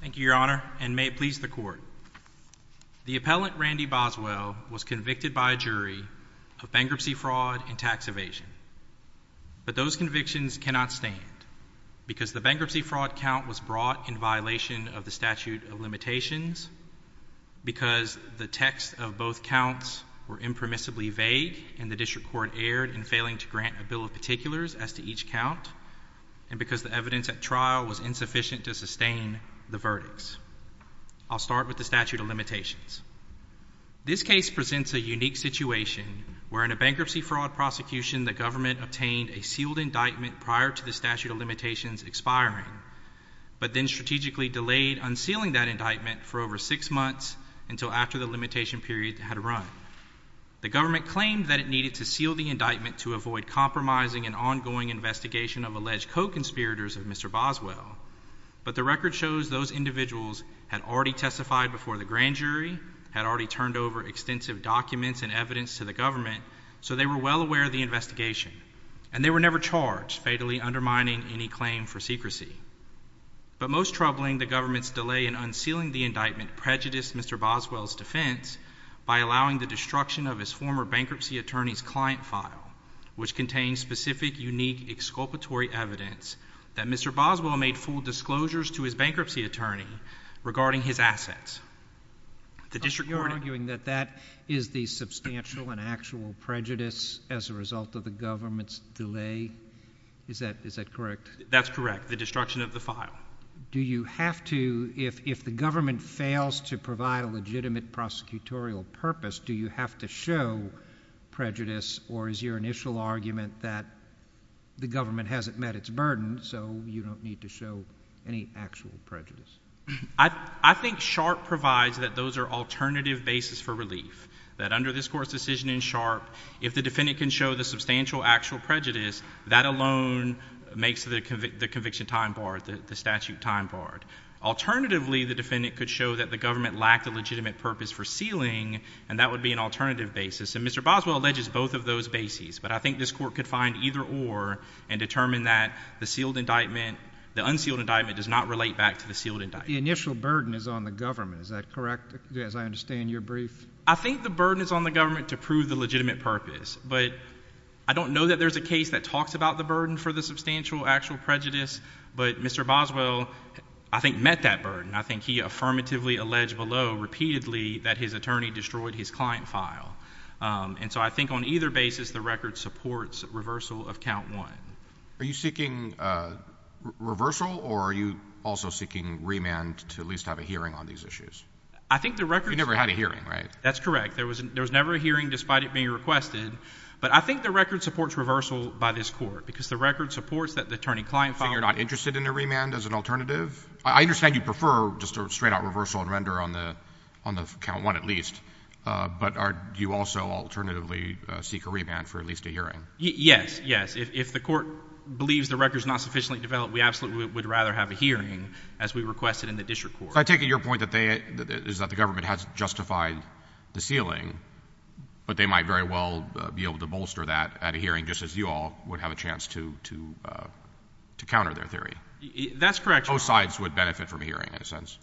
Thank you, Your Honor, and may it please the Court. The appellant Randy Boswell was convicted by a jury of bankruptcy fraud and tax evasion. But those convictions cannot stand, because the bankruptcy fraud count was brought in violation of the statute of limitations, because the texts of both counts were impermissibly vague and the district court erred in failing to grant a bill of particulars as to each count, and because the evidence at trial was insufficient to sustain the verdicts. I'll start with the statute of limitations. This case presents a unique situation, where in a bankruptcy fraud prosecution the government obtained a sealed indictment prior to the statute of limitations expiring, but then strategically delayed unsealing that indictment for over six months until after the limitation period had run. The government claimed that it needed to seal the indictment to avoid compromising an ongoing investigation of alleged co-conspirators of Mr. Boswell, but the record shows those individuals had already testified before the grand jury, had already turned over extensive documents and evidence to the government, so they were well aware of the investigation, and they were never charged, fatally undermining any claim for secrecy. But most troubling, the government's delay in unsealing the indictment prejudiced Mr. Boswell to the destruction of his former bankruptcy attorney's client file, which contains specific, unique, exculpatory evidence that Mr. Boswell made full disclosures to his bankruptcy attorney regarding his assets. The district court— So you're arguing that that is the substantial and actual prejudice as a result of the government's delay? Is that correct? That's correct, the destruction of the file. Do you have to, if the government fails to provide a legitimate prosecutorial purpose, do you have to show prejudice, or is your initial argument that the government hasn't met its burden, so you don't need to show any actual prejudice? I think Sharpe provides that those are alternative bases for relief, that under this Court's decision in Sharpe, if the defendant can show the substantial actual prejudice, that alone makes the conviction time barred, the statute time barred. Alternatively, the defendant could show that the government lacked a legitimate purpose for sealing, and that would be an alternative basis. And Mr. Boswell alleges both of those bases, but I think this Court could find either or and determine that the sealed indictment, the unsealed indictment, does not relate back to the sealed indictment. But the initial burden is on the government, is that correct, as I understand your brief? I think the burden is on the government to prove the legitimate purpose, but I don't know that there's a case that talks about the burden for the substantial actual prejudice, but Mr. Boswell, I think, met that burden. I think he affirmatively alleged below, repeatedly, that his attorney destroyed his client file. And so I think on either basis, the record supports reversal of count one. Are you seeking reversal, or are you also seeking remand to at least have a hearing on these issues? I think the record— You never had a hearing, right? That's correct. There was never a hearing, despite it being requested, but I think the record supports reversal by this Court, because the record supports that the attorney client file— So you're not interested in a remand as an alternative? I understand you prefer just a straight-out reversal and render on the count one at least, but do you also alternatively seek a remand for at least a hearing? Yes, yes. If the Court believes the record's not sufficiently developed, we absolutely would rather have a hearing, as we requested in the District Court. So I take it your point is that the government has justified the sealing, but they might very well be able to bolster that at a hearing, just as you all would have a chance to counter their theory. That's correct, Your Honor. Both sides would benefit from a hearing, in a sense.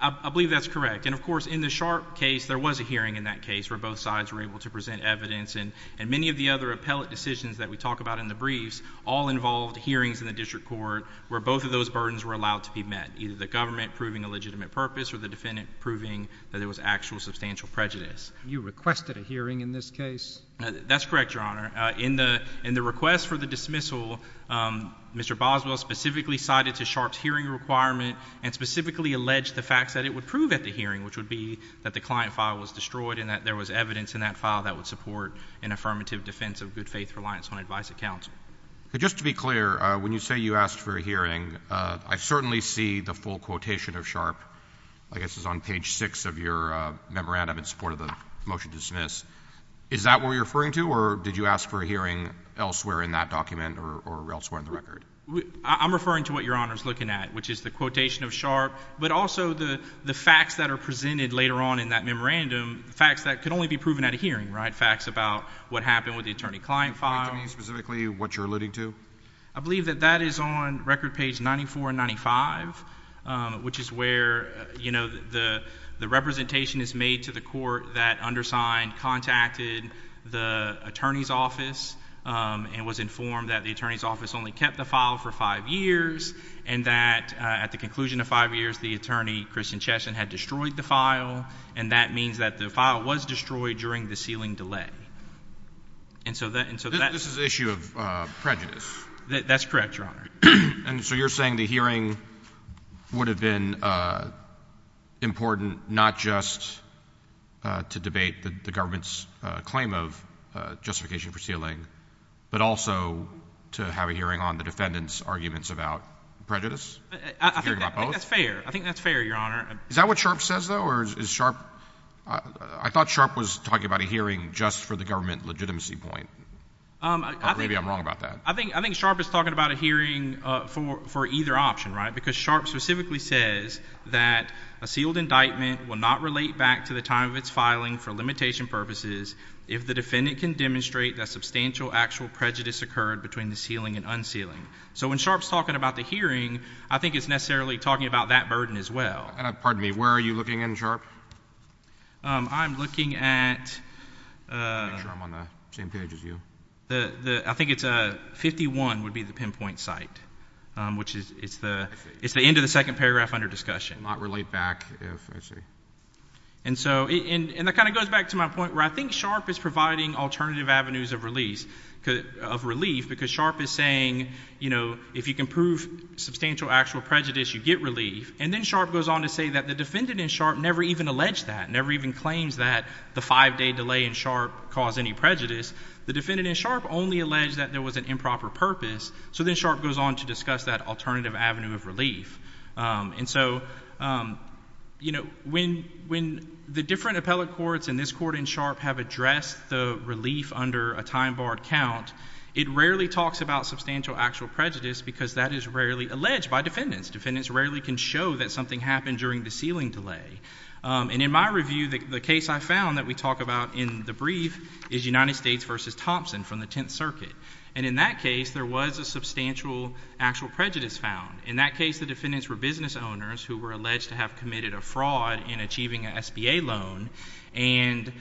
I believe that's correct. And, of course, in the Sharpe case, there was a hearing in that case where both sides were able to present evidence, and many of the other appellate decisions that we talk about in the briefs all involved hearings in the District Court where both of those burdens were allowed to be met, either the government proving a legitimate purpose or the defendant proving that there was actual substantial prejudice. You requested a hearing in this case? That's correct, Your Honor. In the request for the dismissal, Mr. Boswell specifically cited to Sharpe's hearing requirement and specifically alleged the facts that it would prove at the hearing, which would be that the client file was destroyed and that there was evidence in that file that would support an affirmative defense of good-faith reliance on advice of counsel. Just to be clear, when you say you asked for a hearing, I certainly see the full quotation of Sharpe, I guess it's on page 6 of your memorandum in support of the motion to dismiss. Is that what you're referring to, or did you ask for a hearing elsewhere in that document or elsewhere in the record? I'm referring to what Your Honor's looking at, which is the quotation of Sharpe, but also the facts that are presented later on in that memorandum, facts that could only be proven at a hearing, right? Facts about what happened with the attorney-client file. Can you point to me specifically what you're alluding to? I believe that that is on record page 94 and 95, which is where, you know, the representation is made to the court that undersigned, contacted the attorney's office, and was informed that the attorney's office only kept the file for five years, and that at the conclusion of five years, the attorney, Christian Chesson, had destroyed the file, and that means that the file was destroyed during the sealing delay. And so that... This is an issue of prejudice. That's correct, Your Honor. And so you're saying the hearing would have been important not just to debate the government's claim of justification for sealing, but also to have a hearing on the defendant's arguments about prejudice? Hearing about both? I think that's fair. I think that's fair, Your Honor. Is that what Sharpe says, though, or is Sharpe... I thought Sharpe was talking about a hearing just for the government legitimacy point, or maybe I'm wrong about that. I think Sharpe is talking about a hearing for either option, right? Because Sharpe specifically says that a sealed indictment will not relate back to the time of its filing for limitation purposes if the defendant can demonstrate that substantial actual prejudice occurred between the sealing and unsealing. So when Sharpe's talking about the hearing, I think it's necessarily talking about that burden as well. Pardon me. Where are you looking in, Sharpe? I'm looking at... Make sure I'm on the same page as you. I think it's 51 would be the pinpoint site, which is... It's the end of the second paragraph under discussion. Not relate back if... I see. And so... And that kind of goes back to my point where I think Sharpe is providing alternative avenues of relief because Sharpe is saying if you can prove substantial actual prejudice, you get relief. And then Sharpe goes on to say that the defendant in Sharpe never even alleged that, never even claims that the five-day delay in Sharpe caused any prejudice. The defendant in Sharpe only alleged that there was an improper purpose. So then Sharpe goes on to discuss that alternative avenue of relief. And so when the different appellate courts in this court in Sharpe have addressed the relief under a time-barred count, it rarely talks about substantial actual prejudice because that is rarely alleged by defendants. Defendants rarely can show that something happened during the sealing delay. And in my review, the case I found that we talk about in the brief is United States versus Thompson from the Tenth Circuit. And in that case, there was a substantial actual prejudice found. In that case, the defendants were business owners who were alleged to have committed a fraud in achieving an SBA loan. And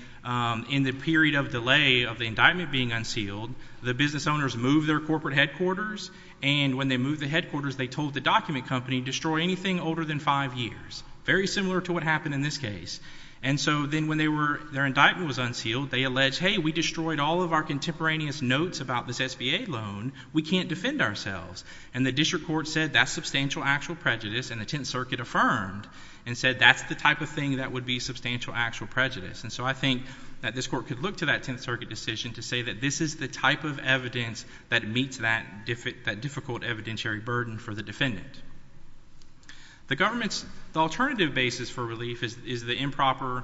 in the period of delay of the indictment being unsealed, the business owners moved their corporate headquarters. And when they moved the headquarters, they told the document company, destroy anything older than five years. Very similar to what happened in this case. And so then when their indictment was unsealed, they alleged, hey, we destroyed all of our contemporaneous notes about this SBA loan. We can't defend ourselves. And the district court said that's substantial actual prejudice and the Tenth Circuit affirmed and said that's the type of thing that would be substantial actual prejudice. And so I think that this court could look to that Tenth Circuit decision to say that this is the type of evidence that meets that difficult evidentiary burden for the defendant. The government's alternative basis for relief is the improper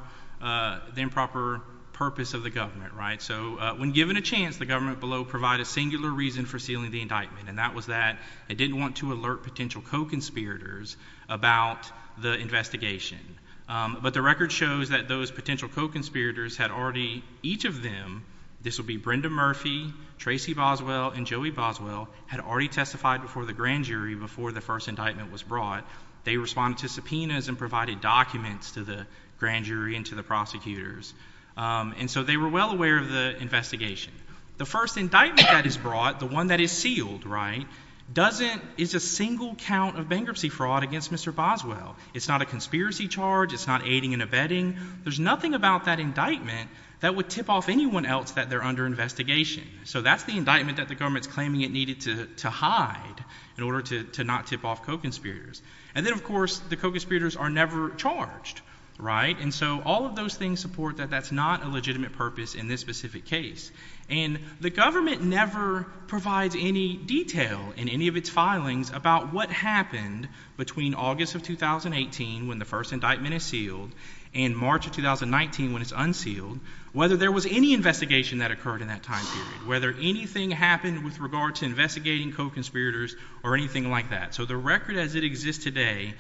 purpose of the government. So when given a chance, the government below provide a singular reason for sealing the indictment and that was that it didn't want to alert potential co-conspirators about the investigation. But the record shows that those potential co-conspirators had already, each of them, this will be Brenda Murphy, Tracy Boswell, and Joey Boswell, had already testified before the grand jury before the first indictment was brought. They responded to subpoenas and provided documents to the grand jury and to the prosecutors. And so they were well aware of the investigation. The first indictment that is brought, the one that is sealed, right, doesn't, is a single count of bankruptcy fraud against Mr. Boswell. It's not a conspiracy charge. It's not aiding and abetting. There's nothing about that indictment that would tip off anyone else that they're under investigation. So that's the indictment that the government's claiming it needed to hide in order to not tip off co-conspirators. And then, of course, the co-conspirators are never charged, right? And so all of those things support that that's not a legitimate purpose in this specific case. And the government never provides any detail in any of its filings about what happened between August of 2018 when the first indictment is sealed and March of 2019 when it's unsealed, whether there was any investigation that occurred in that time period, whether anything happened with regard to investigating co-conspirators or anything like that. So the record as it exists today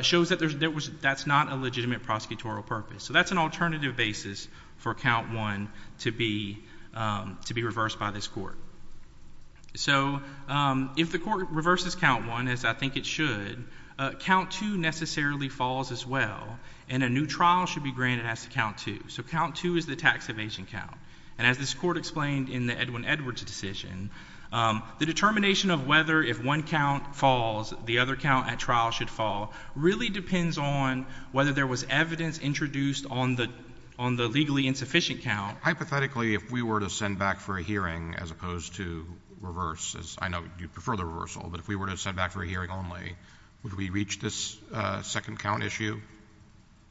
shows that that's not a legitimate prosecutorial purpose. So that's an alternative basis for count one to be reversed by this court. So if the court reverses count one, as I think it should, count two necessarily falls as well, and a new trial should be granted as to count two. So count two is the tax evasion count. And as this court explained in the Edwin Edwards decision, the determination of whether if one count falls, the other count at trial should fall really depends on whether there was evidence introduced on the legally insufficient count. Hypothetically, if we were to send back for a hearing as opposed to reverse, as I know you prefer the reversal, but if we were to send back for a hearing only, would we reach this second count issue?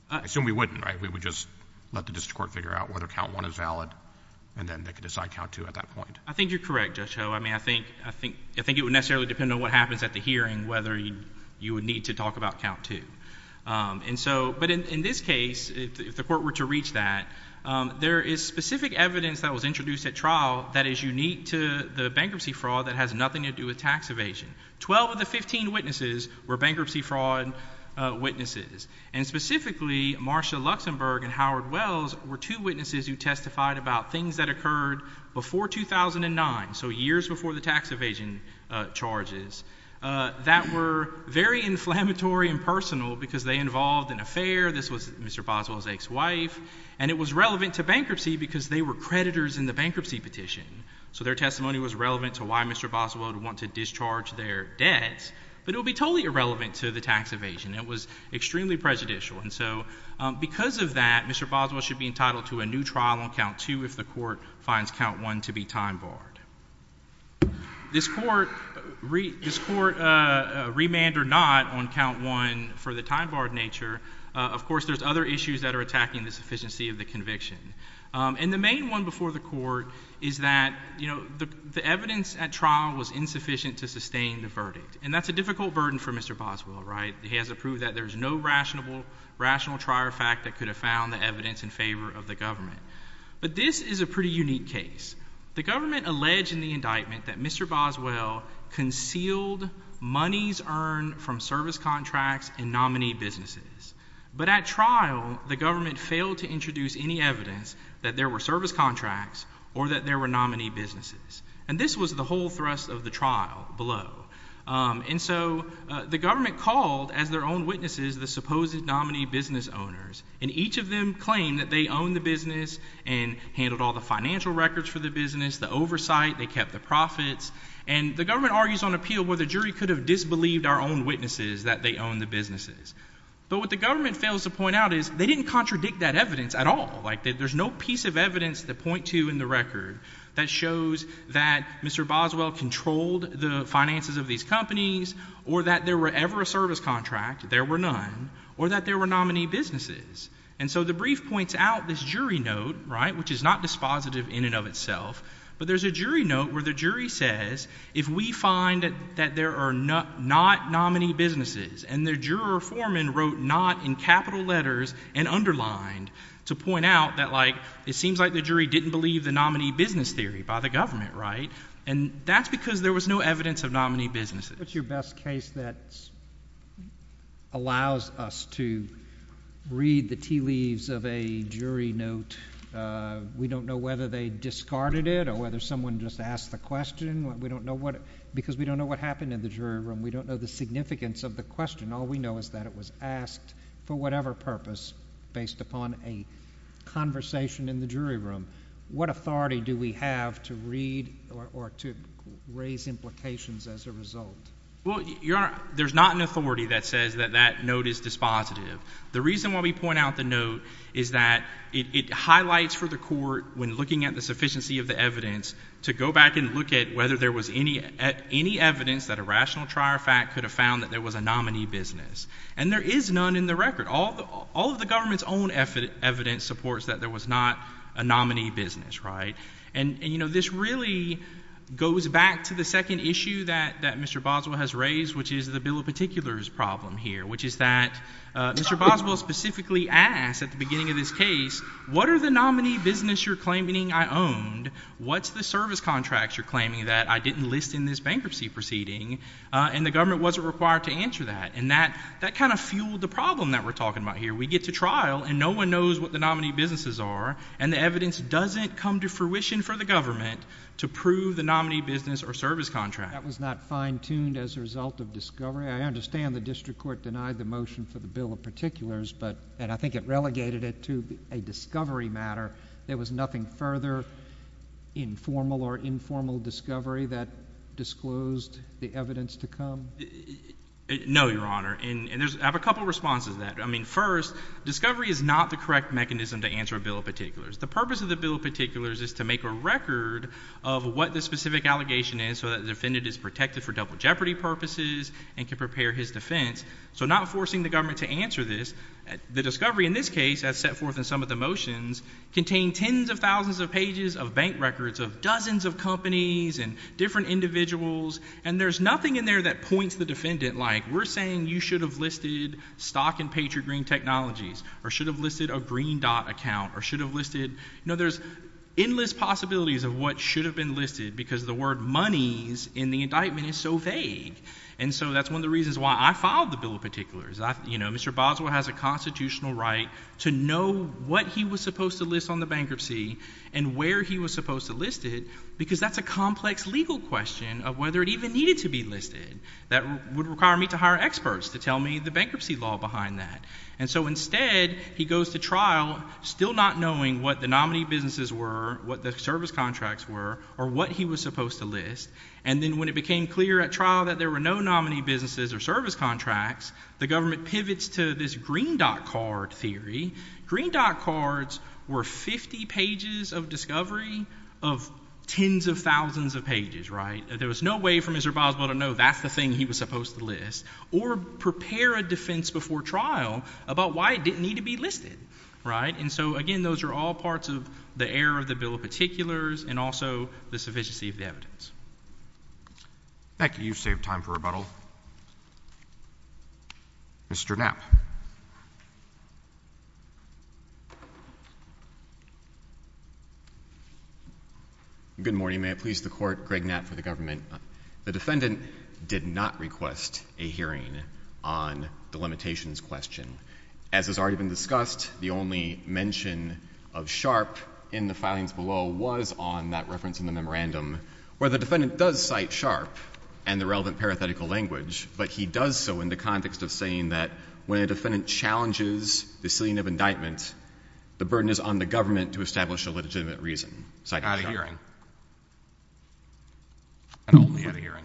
I assume we wouldn't, right? We would just let the district court figure out whether count one is valid, and then they could decide count two at that point. I think you're correct, Judge Ho. I mean, I think it would necessarily depend on what happens at the hearing whether you would need to talk about count two. And so, but in this case, if the court were to reach that, there is specific evidence that was introduced at trial that is unique to the bankruptcy fraud that has nothing to do with tax evasion. Twelve of the fifteen witnesses were bankruptcy fraud witnesses. And specifically, Marsha Luxenberg and Howard Wells were two witnesses who testified about things that occurred before 2009, so years before the tax evasion charges, that were very inflammatory and personal because they involved an affair. This was Mr. Boswell's ex-wife, and it was relevant to bankruptcy because they were creditors in the bankruptcy petition. So their testimony was relevant to why Mr. Boswell would want to discharge their debts, but it would be totally irrelevant to the tax evasion. It was extremely prejudicial. And so, because of that, Mr. Boswell should be entitled to a new trial on count two if the court finds count one to be time barred. This court remanded not on count one for the time barred nature. Of course, there's other issues that are attacking the sufficiency of the conviction. And the main one before the court is that, you know, the evidence at trial was insufficient to sustain the verdict. And that's a difficult burden for Mr. Boswell, right? He has to prove that there's no rational trial fact that could have found the evidence in favor of the government. But this is a pretty unique case. The government alleged in the indictment that Mr. Boswell concealed monies earned from service contracts and nominee businesses. But at trial, the government failed to introduce any evidence that there were service contracts or that there were nominee businesses. And this was the whole thrust of the trial below. And so, the government called as their own witnesses the supposed nominee business owners. And each of them claimed that they owned the business and handled all the financial records for the business, the oversight, they kept the profits. And the government argues on appeal where the jury could have disbelieved our own witnesses that they owned the businesses. But what the government fails to point out is they didn't contradict that evidence at all. Like, there's no piece of evidence to point to in the record that shows that Mr. Boswell controlled the finances of these companies or that there were ever a service contract, there were none, or that there were nominee businesses. And so, the brief points out this jury note, right, which is not dispositive in and of itself. But there's a jury note where the jury says, if we find that there are not nominee businesses and the juror foreman wrote not in capital letters and underlined to point out that, like, it seems like the jury didn't believe the nominee business theory by the government, right? And that's because there was no evidence of nominee businesses. What's your best case that allows us to read the tea leaves of a jury note? We don't know whether they discarded it or whether someone just asked the question. We don't know what, because we don't know what happened in the jury room. We don't know the significance of the question. All we know is that it was asked for whatever purpose based upon a conversation in the jury room. What authority do we have to read or to raise implications as a result? Well, Your Honor, there's not an authority that says that that note is dispositive. The reason why we point out the note is that it highlights for the court, when looking at the sufficiency of the evidence, to go back and look at whether there was any evidence that a rational trier fact could have found that there was a nominee business. And there is none in the record. All of the government's own evidence supports that there was not a nominee business, right? And this really goes back to the second issue that Mr. Boswell has raised, which is the bill of particulars problem here, which is that Mr. Boswell specifically asked at the beginning of this case, what are the nominee business you're claiming I owned? What's the service contract you're claiming that I didn't list in this bankruptcy proceeding? And the government wasn't required to answer that. And that kind of fueled the problem that we're talking about here. We get to trial, and no one knows what the nominee businesses are, and the evidence doesn't come to fruition for the government to prove the nominee business or service contract. That was not fine-tuned as a result of discovery. I understand the district court denied the motion for the bill of particulars, but, and I think it relegated it to a discovery matter. There was nothing further informal or informal discovery that disclosed the evidence to come? No, Your Honor, and I have a couple of responses to that. I mean, first, discovery is not the correct mechanism to answer a bill of particulars. The purpose of the bill of particulars is to make a record of what the specific allegation is so that the defendant is protected for double jeopardy purposes and can prepare his defense. So not forcing the government to answer this, the discovery in this case, as set forth in some of the motions, contained tens of thousands of pages of bank records of dozens of companies and different individuals, and there's nothing in there that points the defendant like, we're saying you should have listed stock in Patriot Green Technologies, or should have listed a Green Dot account, or should have listed, you know, there's endless possibilities of what should have been listed because the word monies in the indictment is so vague. And so that's one of the reasons why I filed the bill of particulars. You know, Mr. Boswell has a constitutional right to know what he was supposed to list on the bankruptcy and where he was supposed to list it because that's a complex legal question of whether it even needed to be listed that would require me to hire experts to tell me the bankruptcy law behind that. And so instead, he goes to trial still not knowing what the nominee businesses were, what the service contracts were, or what he was supposed to list, and then when it became clear at trial that there were no nominee businesses or service contracts, the government 50 pages of discovery of tens of thousands of pages, right? There was no way for Mr. Boswell to know that's the thing he was supposed to list or prepare a defense before trial about why it didn't need to be listed, right? And so again, those are all parts of the error of the bill of particulars and also the sufficiency of the evidence. Thank you. You've saved time for rebuttal. Mr. Knapp. Good morning. May it please the Court. Greg Knapp for the government. The defendant did not request a hearing on the limitations question. As has already been discussed, the only mention of Sharp in the filings below was on that reference in the memorandum where the defendant does cite Sharp and the relevant parathetical language, but he does so in the context of saying that when a defendant challenges the ceiling of indictment, the burden is on the government to establish a legitimate reason, citing Sharp. At a hearing. And only at a hearing.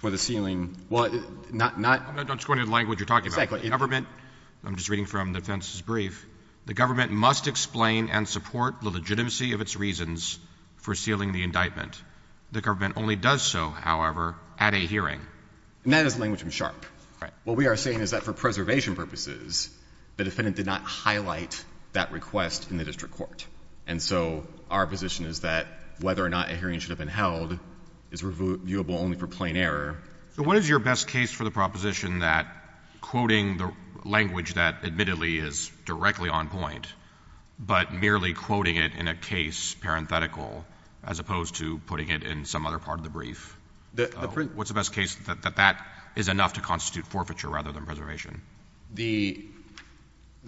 For the ceiling. Well, not — I'm not just going to the language you're talking about. Exactly. The government — I'm just reading from the defense's brief. The government must explain and support the legitimacy of its reasons for sealing the indictment. The government only does so, however, at a hearing. And that is the language from Sharp. All right. What we are saying is that for preservation purposes, the defendant did not highlight that request in the district court. And so our position is that whether or not a hearing should have been held is reviewable only for plain error. So what is your best case for the proposition that quoting the language that admittedly is directly on point, but merely quoting it in a case parenthetical as opposed to putting it in some other part of the brief? The — What's the best case that that is enough to constitute forfeiture rather than preservation? The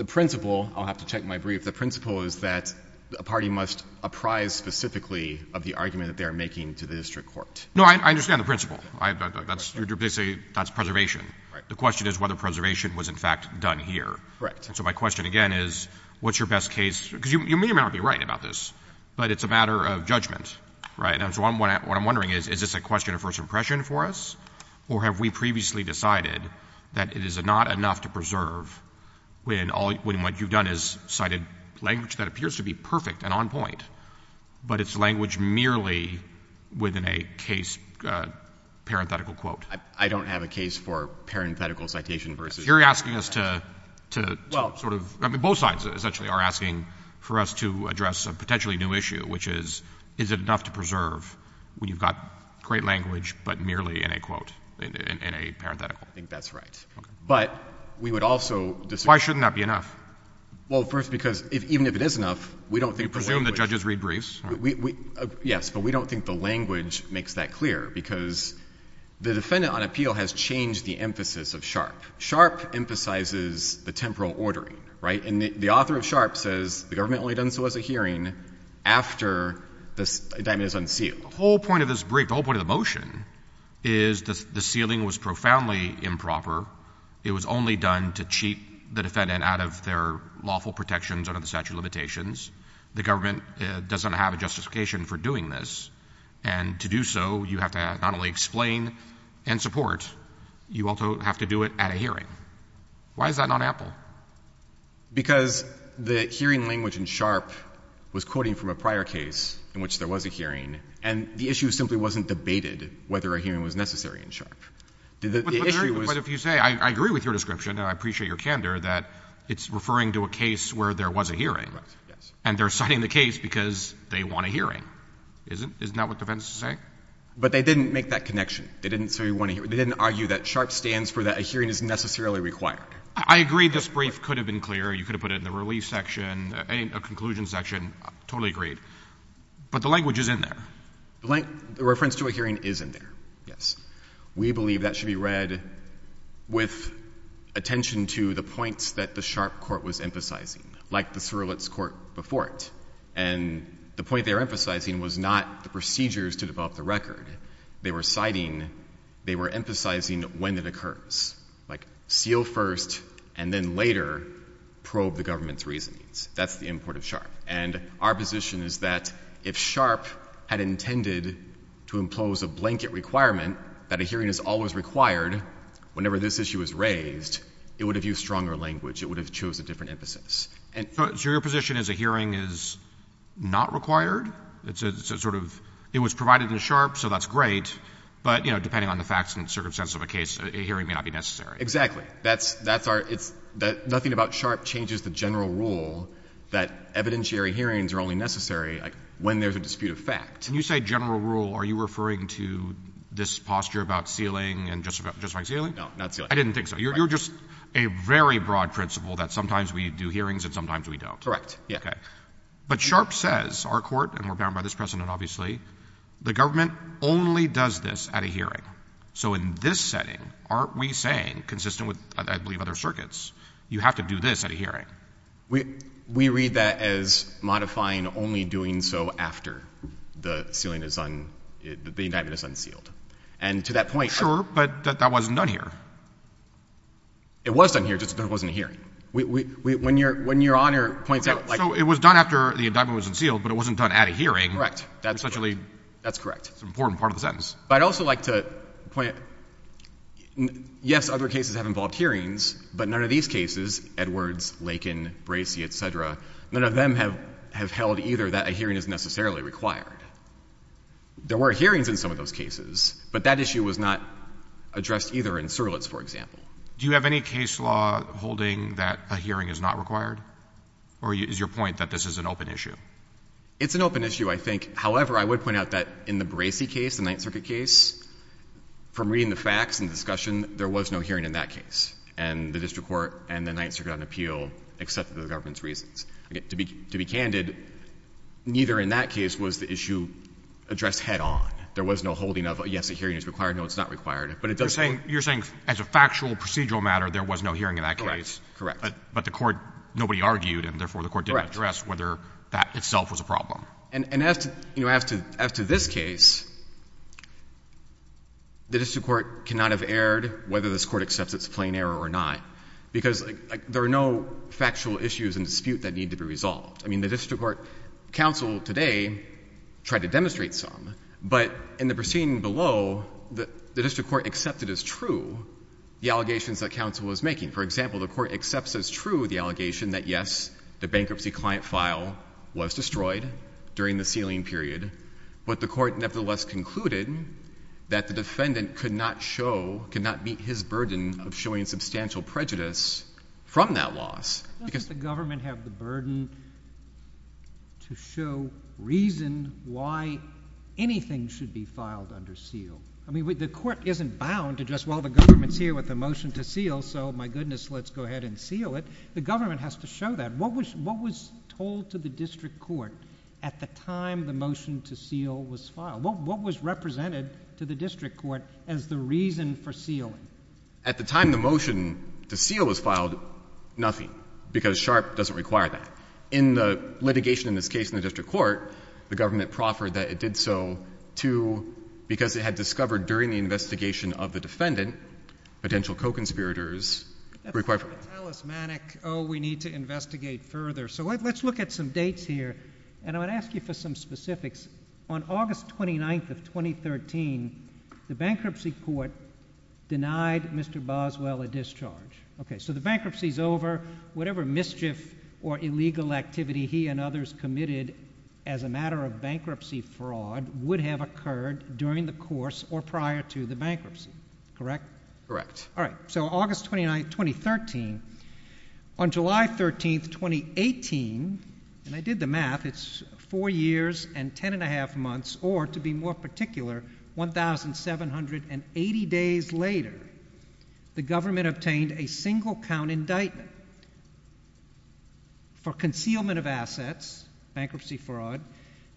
principle — I'll have to check my brief — the principle is that a party must apprise specifically of the argument that they are making to the district court. No, I understand the principle. That's — you're basically — that's preservation. Right. The question is whether preservation was, in fact, done here. Right. And so my question, again, is what's your best case? Because you may or may not be right about this. Right? And so what I'm wondering is, is this a question for the district court? Is this a question of first impression for us? Or have we previously decided that it is not enough to preserve when all — when what you've done is cited language that appears to be perfect and on point, but it's language merely within a case parenthetical quote? I don't have a case for parenthetical citation versus — You're asking us to — to sort of — I mean, both sides, essentially, are asking for us to address a potentially new issue, which is, is it enough to preserve when you've got great language, but merely in a quote — in a parenthetical? I think that's right. But we would also disagree — Why shouldn't that be enough? Well, first, because even if it is enough, we don't think the language — You presume the judges read briefs? We — yes. But we don't think the language makes that clear, because the defendant on appeal has changed the emphasis of SHARP. SHARP emphasizes the temporal ordering. Right? And the author of SHARP says the government only done so as a hearing after the indictment is unsealed. The whole point of this brief, the whole point of the motion, is the sealing was profoundly improper. It was only done to cheat the defendant out of their lawful protections under the statute of limitations. The government doesn't have a justification for doing this. And to do so, you have to not only explain and support, you also have to do it at a hearing. Why is that not ample? Because the hearing language in SHARP was quoting from a prior case in which there was a hearing, and the issue simply wasn't debated whether a hearing was necessary in SHARP. The issue was — But if you say, I agree with your description, and I appreciate your candor, that it's referring to a case where there was a hearing, and they're citing the case because they want a hearing. Isn't — isn't that what the defense is saying? But they didn't make that connection. They didn't say we want a hearing. They didn't argue that SHARP stands for that a hearing is necessarily required. I agree this brief could have been clearer. You could have put it in the relief section, a conclusion section. Totally agreed. But the language is in there. The language — the reference to a hearing is in there, yes. We believe that should be read with attention to the points that the SHARP court was emphasizing, like the Surlitz court before it. And the point they were emphasizing was not the procedures to develop the record. They were citing — they were emphasizing when it occurs, like seal first and then later probe the government's reasonings. That's the import of SHARP. And our position is that if SHARP had intended to impose a blanket requirement that a hearing is always required whenever this issue is raised, it would have used stronger language. It would have chose a different emphasis. And — So your position is a hearing is not required? It's a sort of — it was provided in SHARP, so that's great. But you know, depending on the facts and circumstances of a case, a hearing may not be necessary. Exactly. That's our — nothing about SHARP changes the general rule that evidentiary hearings are only necessary when there's a dispute of fact. When you say general rule, are you referring to this posture about sealing and justifying sealing? No, not sealing. I didn't think so. You're just a very broad principle that sometimes we do hearings and sometimes we don't. Correct. Yeah. Okay. But SHARP says, our court, and we're bound by this precedent, obviously, the government only does this at a hearing. So in this setting, aren't we saying, consistent with, I believe, other circuits, you have to do this at a hearing? We read that as modifying only doing so after the sealing is un — the indictment is unsealed. And to that point — Sure. But that wasn't done here. It was done here, just there wasn't a hearing. When Your Honor points out — So it was done after the indictment was unsealed, but it wasn't done at a hearing. Correct. That's correct. It's an important part of the sentence. But I'd also like to point — yes, other cases have involved hearings, but none of these cases — Edwards, Lakin, Bracey, et cetera — none of them have held either that a hearing is necessarily required. There were hearings in some of those cases, but that issue was not addressed either in Surlitz, for example. Do you have any case law holding that a hearing is not required? Or is your point that this is an open issue? It's an open issue, I think. However, I would point out that in the Bracey case, the Ninth Circuit case, from reading the facts and discussion, there was no hearing in that case. And the district court and the Ninth Circuit on appeal accepted the government's reasons. To be candid, neither in that case was the issue addressed head on. There was no holding of, yes, a hearing is required, no, it's not required. But it does — You're saying as a factual, procedural matter, there was no hearing in that case. Correct. But the court — nobody argued, and therefore the court didn't address whether that itself was a problem. And as to — you know, as to this case, the district court cannot have erred whether this court accepts it's a plain error or not. Because there are no factual issues in dispute that need to be resolved. I mean, the district court — counsel today tried to demonstrate some. But in the proceeding below, the district court accepted as true the allegations that counsel was making. For example, the court accepts as true the allegation that, yes, the bankruptcy client file was destroyed during the sealing period, but the court nevertheless concluded that the defendant could not show, could not meet his burden of showing substantial prejudice from that loss. Doesn't the government have the burden to show reason why anything should be filed under seal? I mean, the court isn't bound to just, well, the government's here with a motion to seal, so my goodness, let's go ahead and seal it. The government has to show that. What was told to the district court at the time the motion to seal was filed? What was represented to the district court as the reason for sealing? At the time the motion to seal was filed, nothing. Because SHARP doesn't require that. In the litigation in this case in the district court, the government proffered that it did so to — because it had discovered during the investigation of the defendant potential co-conspirators required — I don't want to tell us, Manek, oh, we need to investigate further. So let's look at some dates here, and I'm going to ask you for some specifics. On August 29th of 2013, the bankruptcy court denied Mr. Boswell a discharge. Okay, so the bankruptcy's over. Whatever mischief or illegal activity he and others committed as a matter of bankruptcy fraud would have occurred during the course or prior to the bankruptcy, correct? Correct. All right, so August 29th, 2013. On July 13th, 2018 — and I did the math, it's four years and ten and a half months, or to be more particular, 1,780 days later, the government obtained a single-count indictment for concealment of assets, bankruptcy fraud,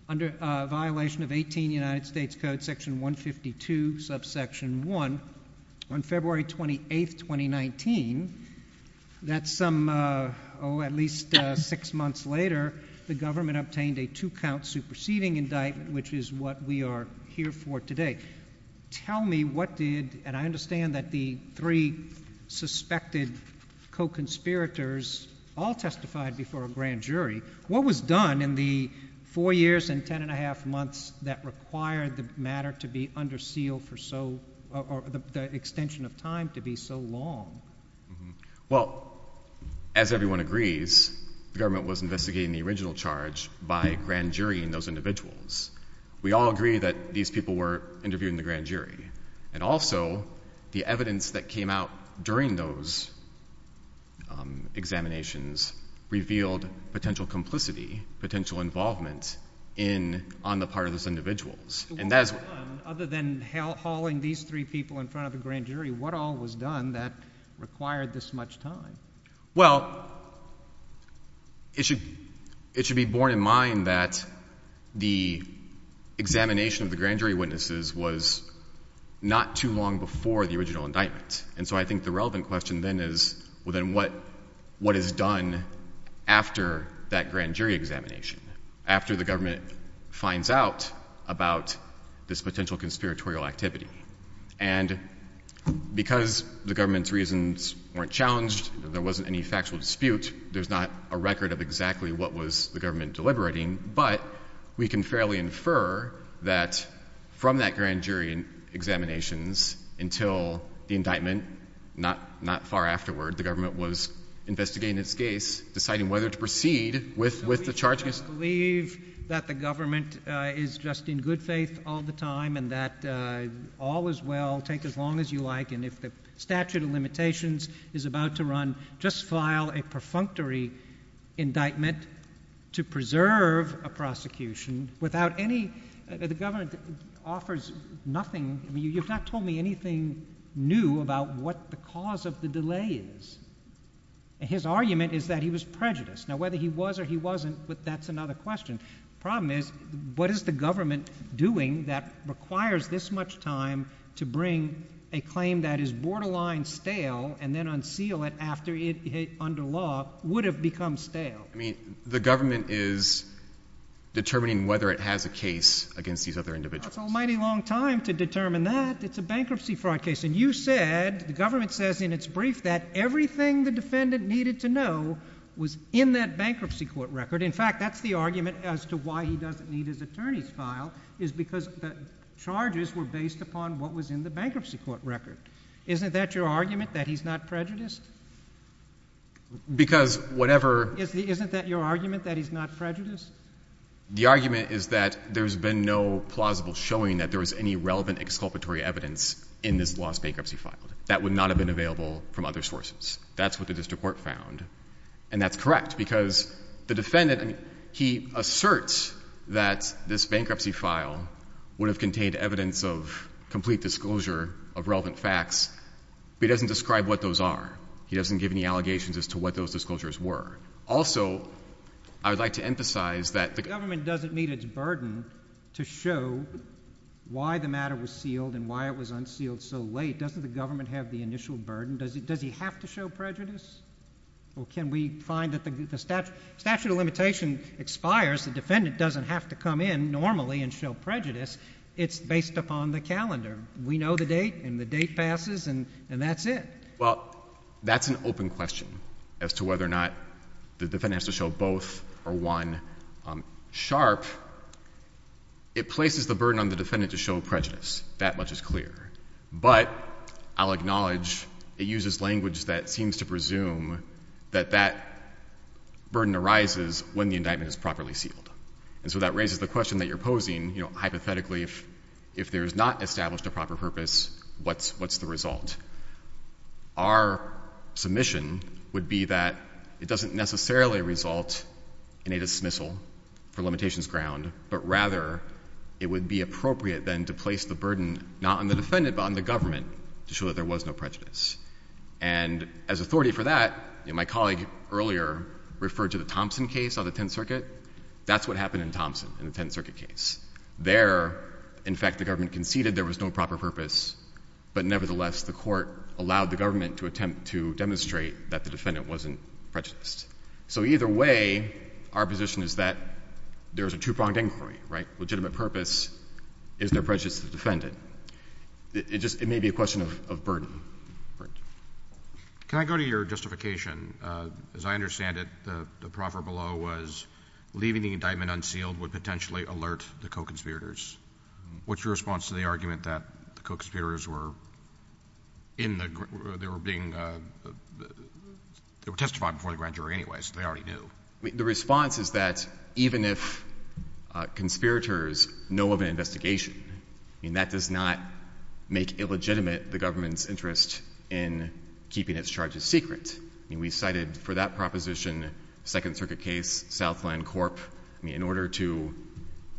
under a violation of 18 United States Code Section 152, Subsection 1. On February 28th, 2019, that's some — oh, at least six months later, the government obtained a two-count superseding indictment, which is what we are here for today. Tell me what did — and I understand that the three suspected co-conspirators all testified before a grand jury. What was done in the four years and ten and a half months that required the matter to be under seal for so — or the extension of time to be so long? Well, as everyone agrees, the government was investigating the original charge by grand jurying those individuals. We all agree that these people were interviewed in the grand jury, and also the evidence that there was some complicity, potential involvement, in — on the part of those individuals. And that is — What was done, other than hauling these three people in front of the grand jury? What all was done that required this much time? Well, it should be borne in mind that the examination of the grand jury witnesses was not too long before the original indictment. And so I think the relevant question then is, well, then what is done after that grand jury examination, after the government finds out about this potential conspiratorial activity? And because the government's reasons weren't challenged, there wasn't any factual dispute, there's not a record of exactly what was the government deliberating, but we can fairly infer that from that grand jury examinations until the indictment, not far afterward, the government was investigating its case, deciding whether to proceed with the charge against — So we just believe that the government is just in good faith all the time, and that all is well, take as long as you like, and if the statute of limitations is about to I mean, you've not told me anything new about what the cause of the delay is. His argument is that he was prejudiced. Now, whether he was or he wasn't, that's another question. The problem is, what is the government doing that requires this much time to bring a claim that is borderline stale and then unseal it after it, under law, would have become stale? I mean, the government is determining whether it has a case against these other individuals. It's a mighty long time to determine that. It's a bankruptcy fraud case, and you said — the government says in its brief that everything the defendant needed to know was in that bankruptcy court record. In fact, that's the argument as to why he doesn't need his attorney's file, is because the charges were based upon what was in the bankruptcy court record. Isn't that your argument, that he's not prejudiced? Because whatever — Isn't that your argument, that he's not prejudiced? The argument is that there's been no plausible showing that there was any relevant exculpatory evidence in this lost bankruptcy file. That would not have been available from other sources. That's what the district court found. And that's correct, because the defendant — he asserts that this bankruptcy file would have contained evidence of complete disclosure of relevant facts, but he doesn't describe what those are. He doesn't give any allegations as to what those disclosures were. Also, I would like to emphasize that the — The government doesn't meet its burden to show why the matter was sealed and why it was unsealed so late. Doesn't the government have the initial burden? Does he have to show prejudice? Or can we find that the statute of limitation expires, the defendant doesn't have to come in normally and show prejudice, it's based upon the calendar. We know the date, and the date passes, and that's it. Well, that's an open question as to whether or not the defendant has to show both or one. SHARP, it places the burden on the defendant to show prejudice. That much is clear. But I'll acknowledge it uses language that seems to presume that that burden arises when the indictment is properly sealed. And so that raises the question that you're posing, you know, hypothetically, if there is not established a proper purpose, what's the result? Our submission would be that it doesn't necessarily result in a dismissal for limitations ground, but rather it would be appropriate then to place the burden not on the defendant but on the government to show that there was no prejudice. And as authority for that, you know, my colleague earlier referred to the Thompson case on the Tenth Circuit. That's what happened in Thompson in the Tenth Circuit case. There, in fact, the government conceded there was no proper purpose, but nevertheless, the court allowed the government to attempt to demonstrate that the defendant wasn't prejudiced. So either way, our position is that there's a two-pronged inquiry, right? Legitimate purpose, is there prejudice to the defendant? It just may be a question of burden. Can I go to your justification? As I understand it, the proffer below was leaving the indictment unsealed would potentially alert the co-conspirators. What's your response to the argument that the co-conspirators were in the group, they were being, they were testifying before the grand jury anyway, so they already knew? The response is that even if conspirators know of an investigation, I mean, that does not make illegitimate the government's interest in keeping its charges secret. I mean, we cited for that proposition, Second Circuit case, Southland Corp, I mean, in order to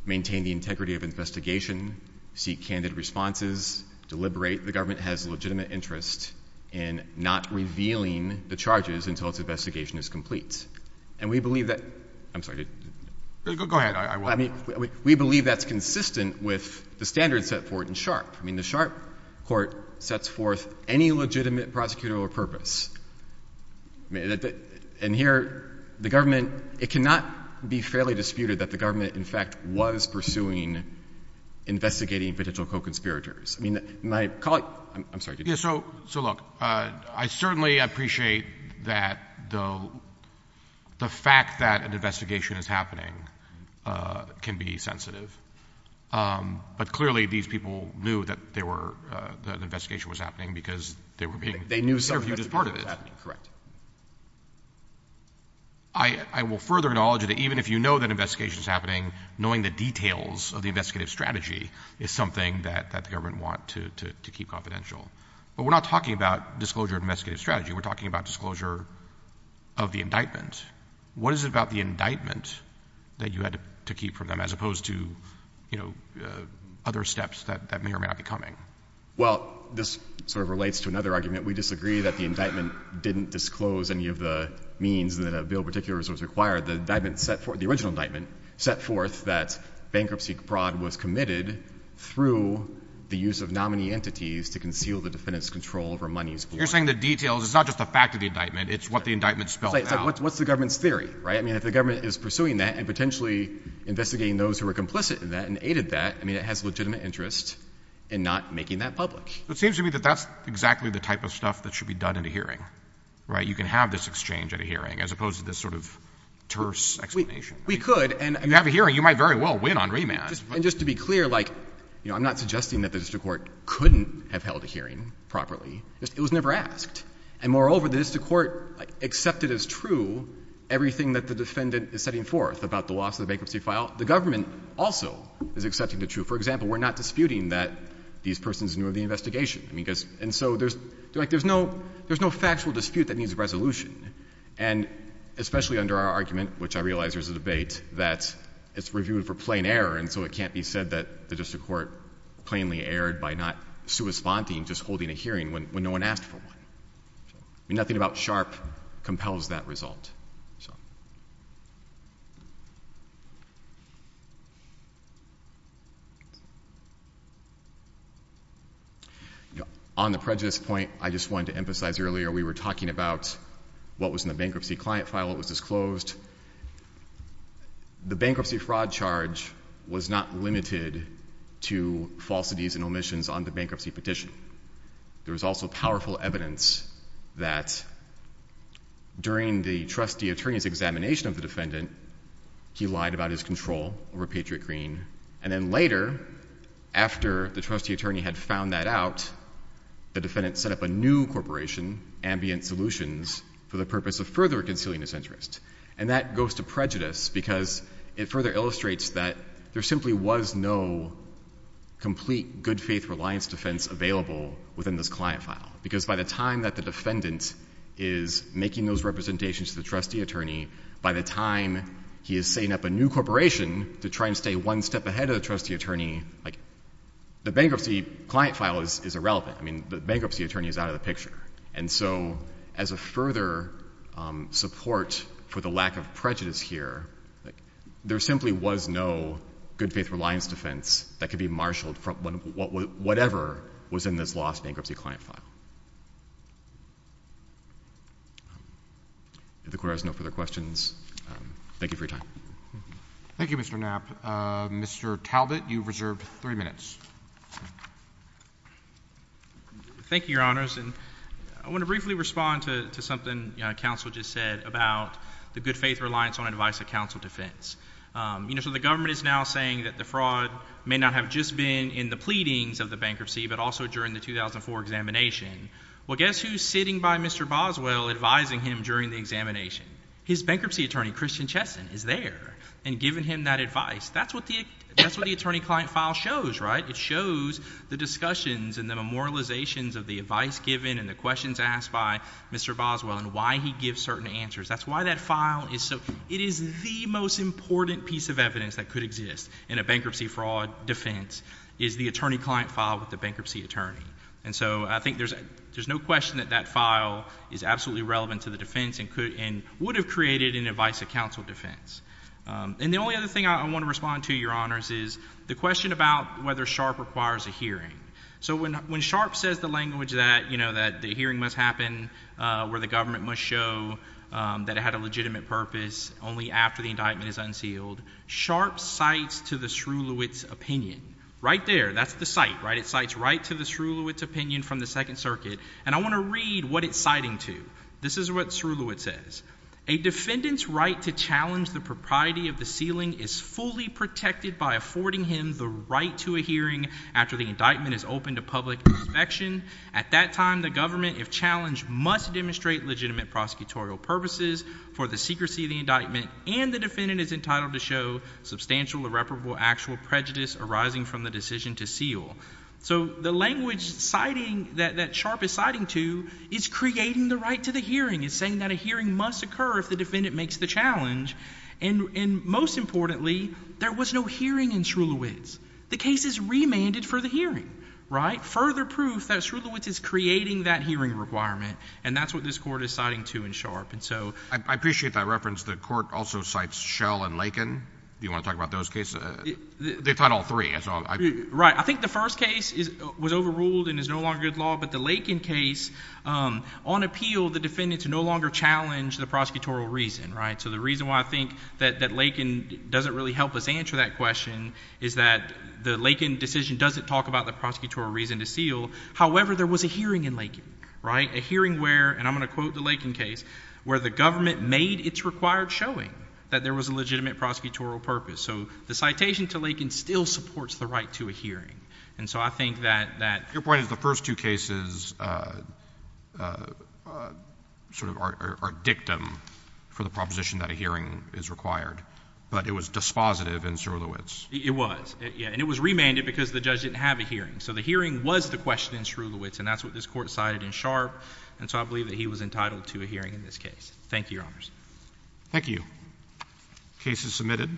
maintain the integrity of investigation, seek candid responses, deliberate, the government has a legitimate interest in not revealing the charges until its investigation is complete. And we believe that, I'm sorry, go ahead, I won't. We believe that's consistent with the standards set forth in Sharpe. I mean, the Sharpe court sets forth any legitimate prosecutorial purpose. And here, the government, it cannot be fairly disputed that the government, in fact, was pursuing, investigating potential co-conspirators. I mean, my colleague, I'm sorry. Yeah, so look, I certainly appreciate that the fact that an investigation is happening can be sensitive. But clearly, these people knew that they were, that an investigation was happening because they were being interviewed as part of it. They knew something that was happening, correct. I will further acknowledge that even if you know that an investigation is happening, knowing the details of the investigative strategy is something that the government want to keep confidential. But we're not talking about disclosure of investigative strategy, we're talking about disclosure of the indictment. What is it about the indictment that you had to keep from them as opposed to, you know, other steps that may or may not be coming? Well, this sort of relates to another argument. We disagree that the indictment didn't disclose any of the means that a bill of particulars was required. The indictment set forth, the original indictment, set forth that bankruptcy fraud was committed through the use of nominee entities to conceal the defendant's control over monies borrowed. You're saying the details, it's not just the fact of the indictment, it's what the indictment spelled out. It's like, what's the government's theory, right? I mean, if the government is pursuing that and potentially investigating those who are complicit in that and aided that, I mean, it has legitimate interest in not making that public. So it seems to me that that's exactly the type of stuff that should be done at a hearing, right? You can have this exchange at a hearing as opposed to this sort of terse explanation. We could, and— If you have a hearing, you might very well win on remand. And just to be clear, like, you know, I'm not suggesting that the district court couldn't have held a hearing properly. It was never asked. And moreover, the district court accepted as true everything that the defendant is setting forth about the loss of the bankruptcy file. The government also is accepting the truth. For example, we're not disputing that these persons knew of the investigation. I mean, because — and so there's — like, there's no factual dispute that needs a resolution. And especially under our argument, which I realize there's a debate, that it's reviewed for plain error, and so it can't be said that the district court plainly erred by not responding, just holding a hearing when no one asked for one. I mean, nothing about SHARP compels that result, so. On the prejudice point, I just wanted to emphasize earlier, we were talking about what was in the bankruptcy client file, it was disclosed. The bankruptcy fraud charge was not limited to falsities and omissions on the bankruptcy petition. There was also powerful evidence that during the trustee attorney's examination of the defendant, he lied about his control over Patriot Green. And then later, after the trustee attorney had found that out, the defendant set up a new corporation, Ambient Solutions, for the purpose of further concealing his interest. And that goes to prejudice, because it further illustrates that there simply was no complete good-faith reliance defense available within this client file. Because by the time that the defendant is making those representations to the trustee attorney, by the time he is setting up a new corporation to try and stay one step ahead of the trustee attorney, like, the bankruptcy client file is irrelevant. And so, as a further support for the lack of prejudice here, there simply was no good-faith reliance defense that could be marshaled from whatever was in this lost bankruptcy client file. If the Court has no further questions, thank you for your time. Thank you, Mr. Knapp. Mr. Talbot, you have reserved three minutes. Thank you, Your Honors. And I want to briefly respond to something counsel just said about the good-faith reliance on advice of counsel defense. You know, so the government is now saying that the fraud may not have just been in the pleadings of the bankruptcy, but also during the 2004 examination. Well, guess who's sitting by Mr. Boswell, advising him during the examination? His bankruptcy attorney, Christian Chesson, is there and giving him that advice. That's what the attorney client file shows, right? It shows the discussions and the memorializations of the advice given and the questions asked by Mr. Boswell and why he gives certain answers. That's why that file is so—it is the most important piece of evidence that could exist in a bankruptcy fraud defense, is the attorney client file with the bankruptcy attorney. And so, I think there's no question that that file is absolutely relevant to the defense and would have created an advice of counsel defense. And the only other thing I want to respond to, Your Honors, is the question about whether Sharpe requires a hearing. So when Sharpe says the language that, you know, that the hearing must happen where the government must show that it had a legitimate purpose only after the indictment is unsealed, Sharpe cites to the Sroulewicz opinion. Right there. That's the cite, right? It cites right to the Sroulewicz opinion from the Second Circuit. And I want to read what it's citing to. This is what Sroulewicz says. A defendant's right to challenge the propriety of the sealing is fully protected by affording him the right to a hearing after the indictment is open to public inspection. At that time, the government, if challenged, must demonstrate legitimate prosecutorial purposes for the secrecy of the indictment, and the defendant is entitled to show substantial irreparable actual prejudice arising from the decision to seal. So the language that Sharpe is citing to is creating the right to the hearing. It's saying that a hearing must occur if the defendant makes the challenge, and most importantly, there was no hearing in Sroulewicz. The case is remanded for the hearing, right? Further proof that Sroulewicz is creating that hearing requirement, and that's what this Court is citing to in Sharpe. And so— I appreciate that reference. The Court also cites Schell and Lakin. Do you want to talk about those cases? They've taught all three. That's all. Right. I think the first case was overruled and is no longer good law, but the Lakin case, on the other hand, no longer challenged the prosecutorial reason, right? So the reason why I think that Lakin doesn't really help us answer that question is that the Lakin decision doesn't talk about the prosecutorial reason to seal. However, there was a hearing in Lakin, right? A hearing where, and I'm going to quote the Lakin case, where the government made its required showing that there was a legitimate prosecutorial purpose. So the citation to Lakin still supports the right to a hearing. And so I think that— So you're saying that the first two cases sort of are dictum for the proposition that a hearing is required, but it was dispositive in Sroulewicz? It was. Yeah. And it was remanded because the judge didn't have a hearing. So the hearing was the question in Sroulewicz, and that's what this Court cited in Sharpe, and so I believe that he was entitled to a hearing in this case. Thank you, Your Honors. Thank you. The case is submitted.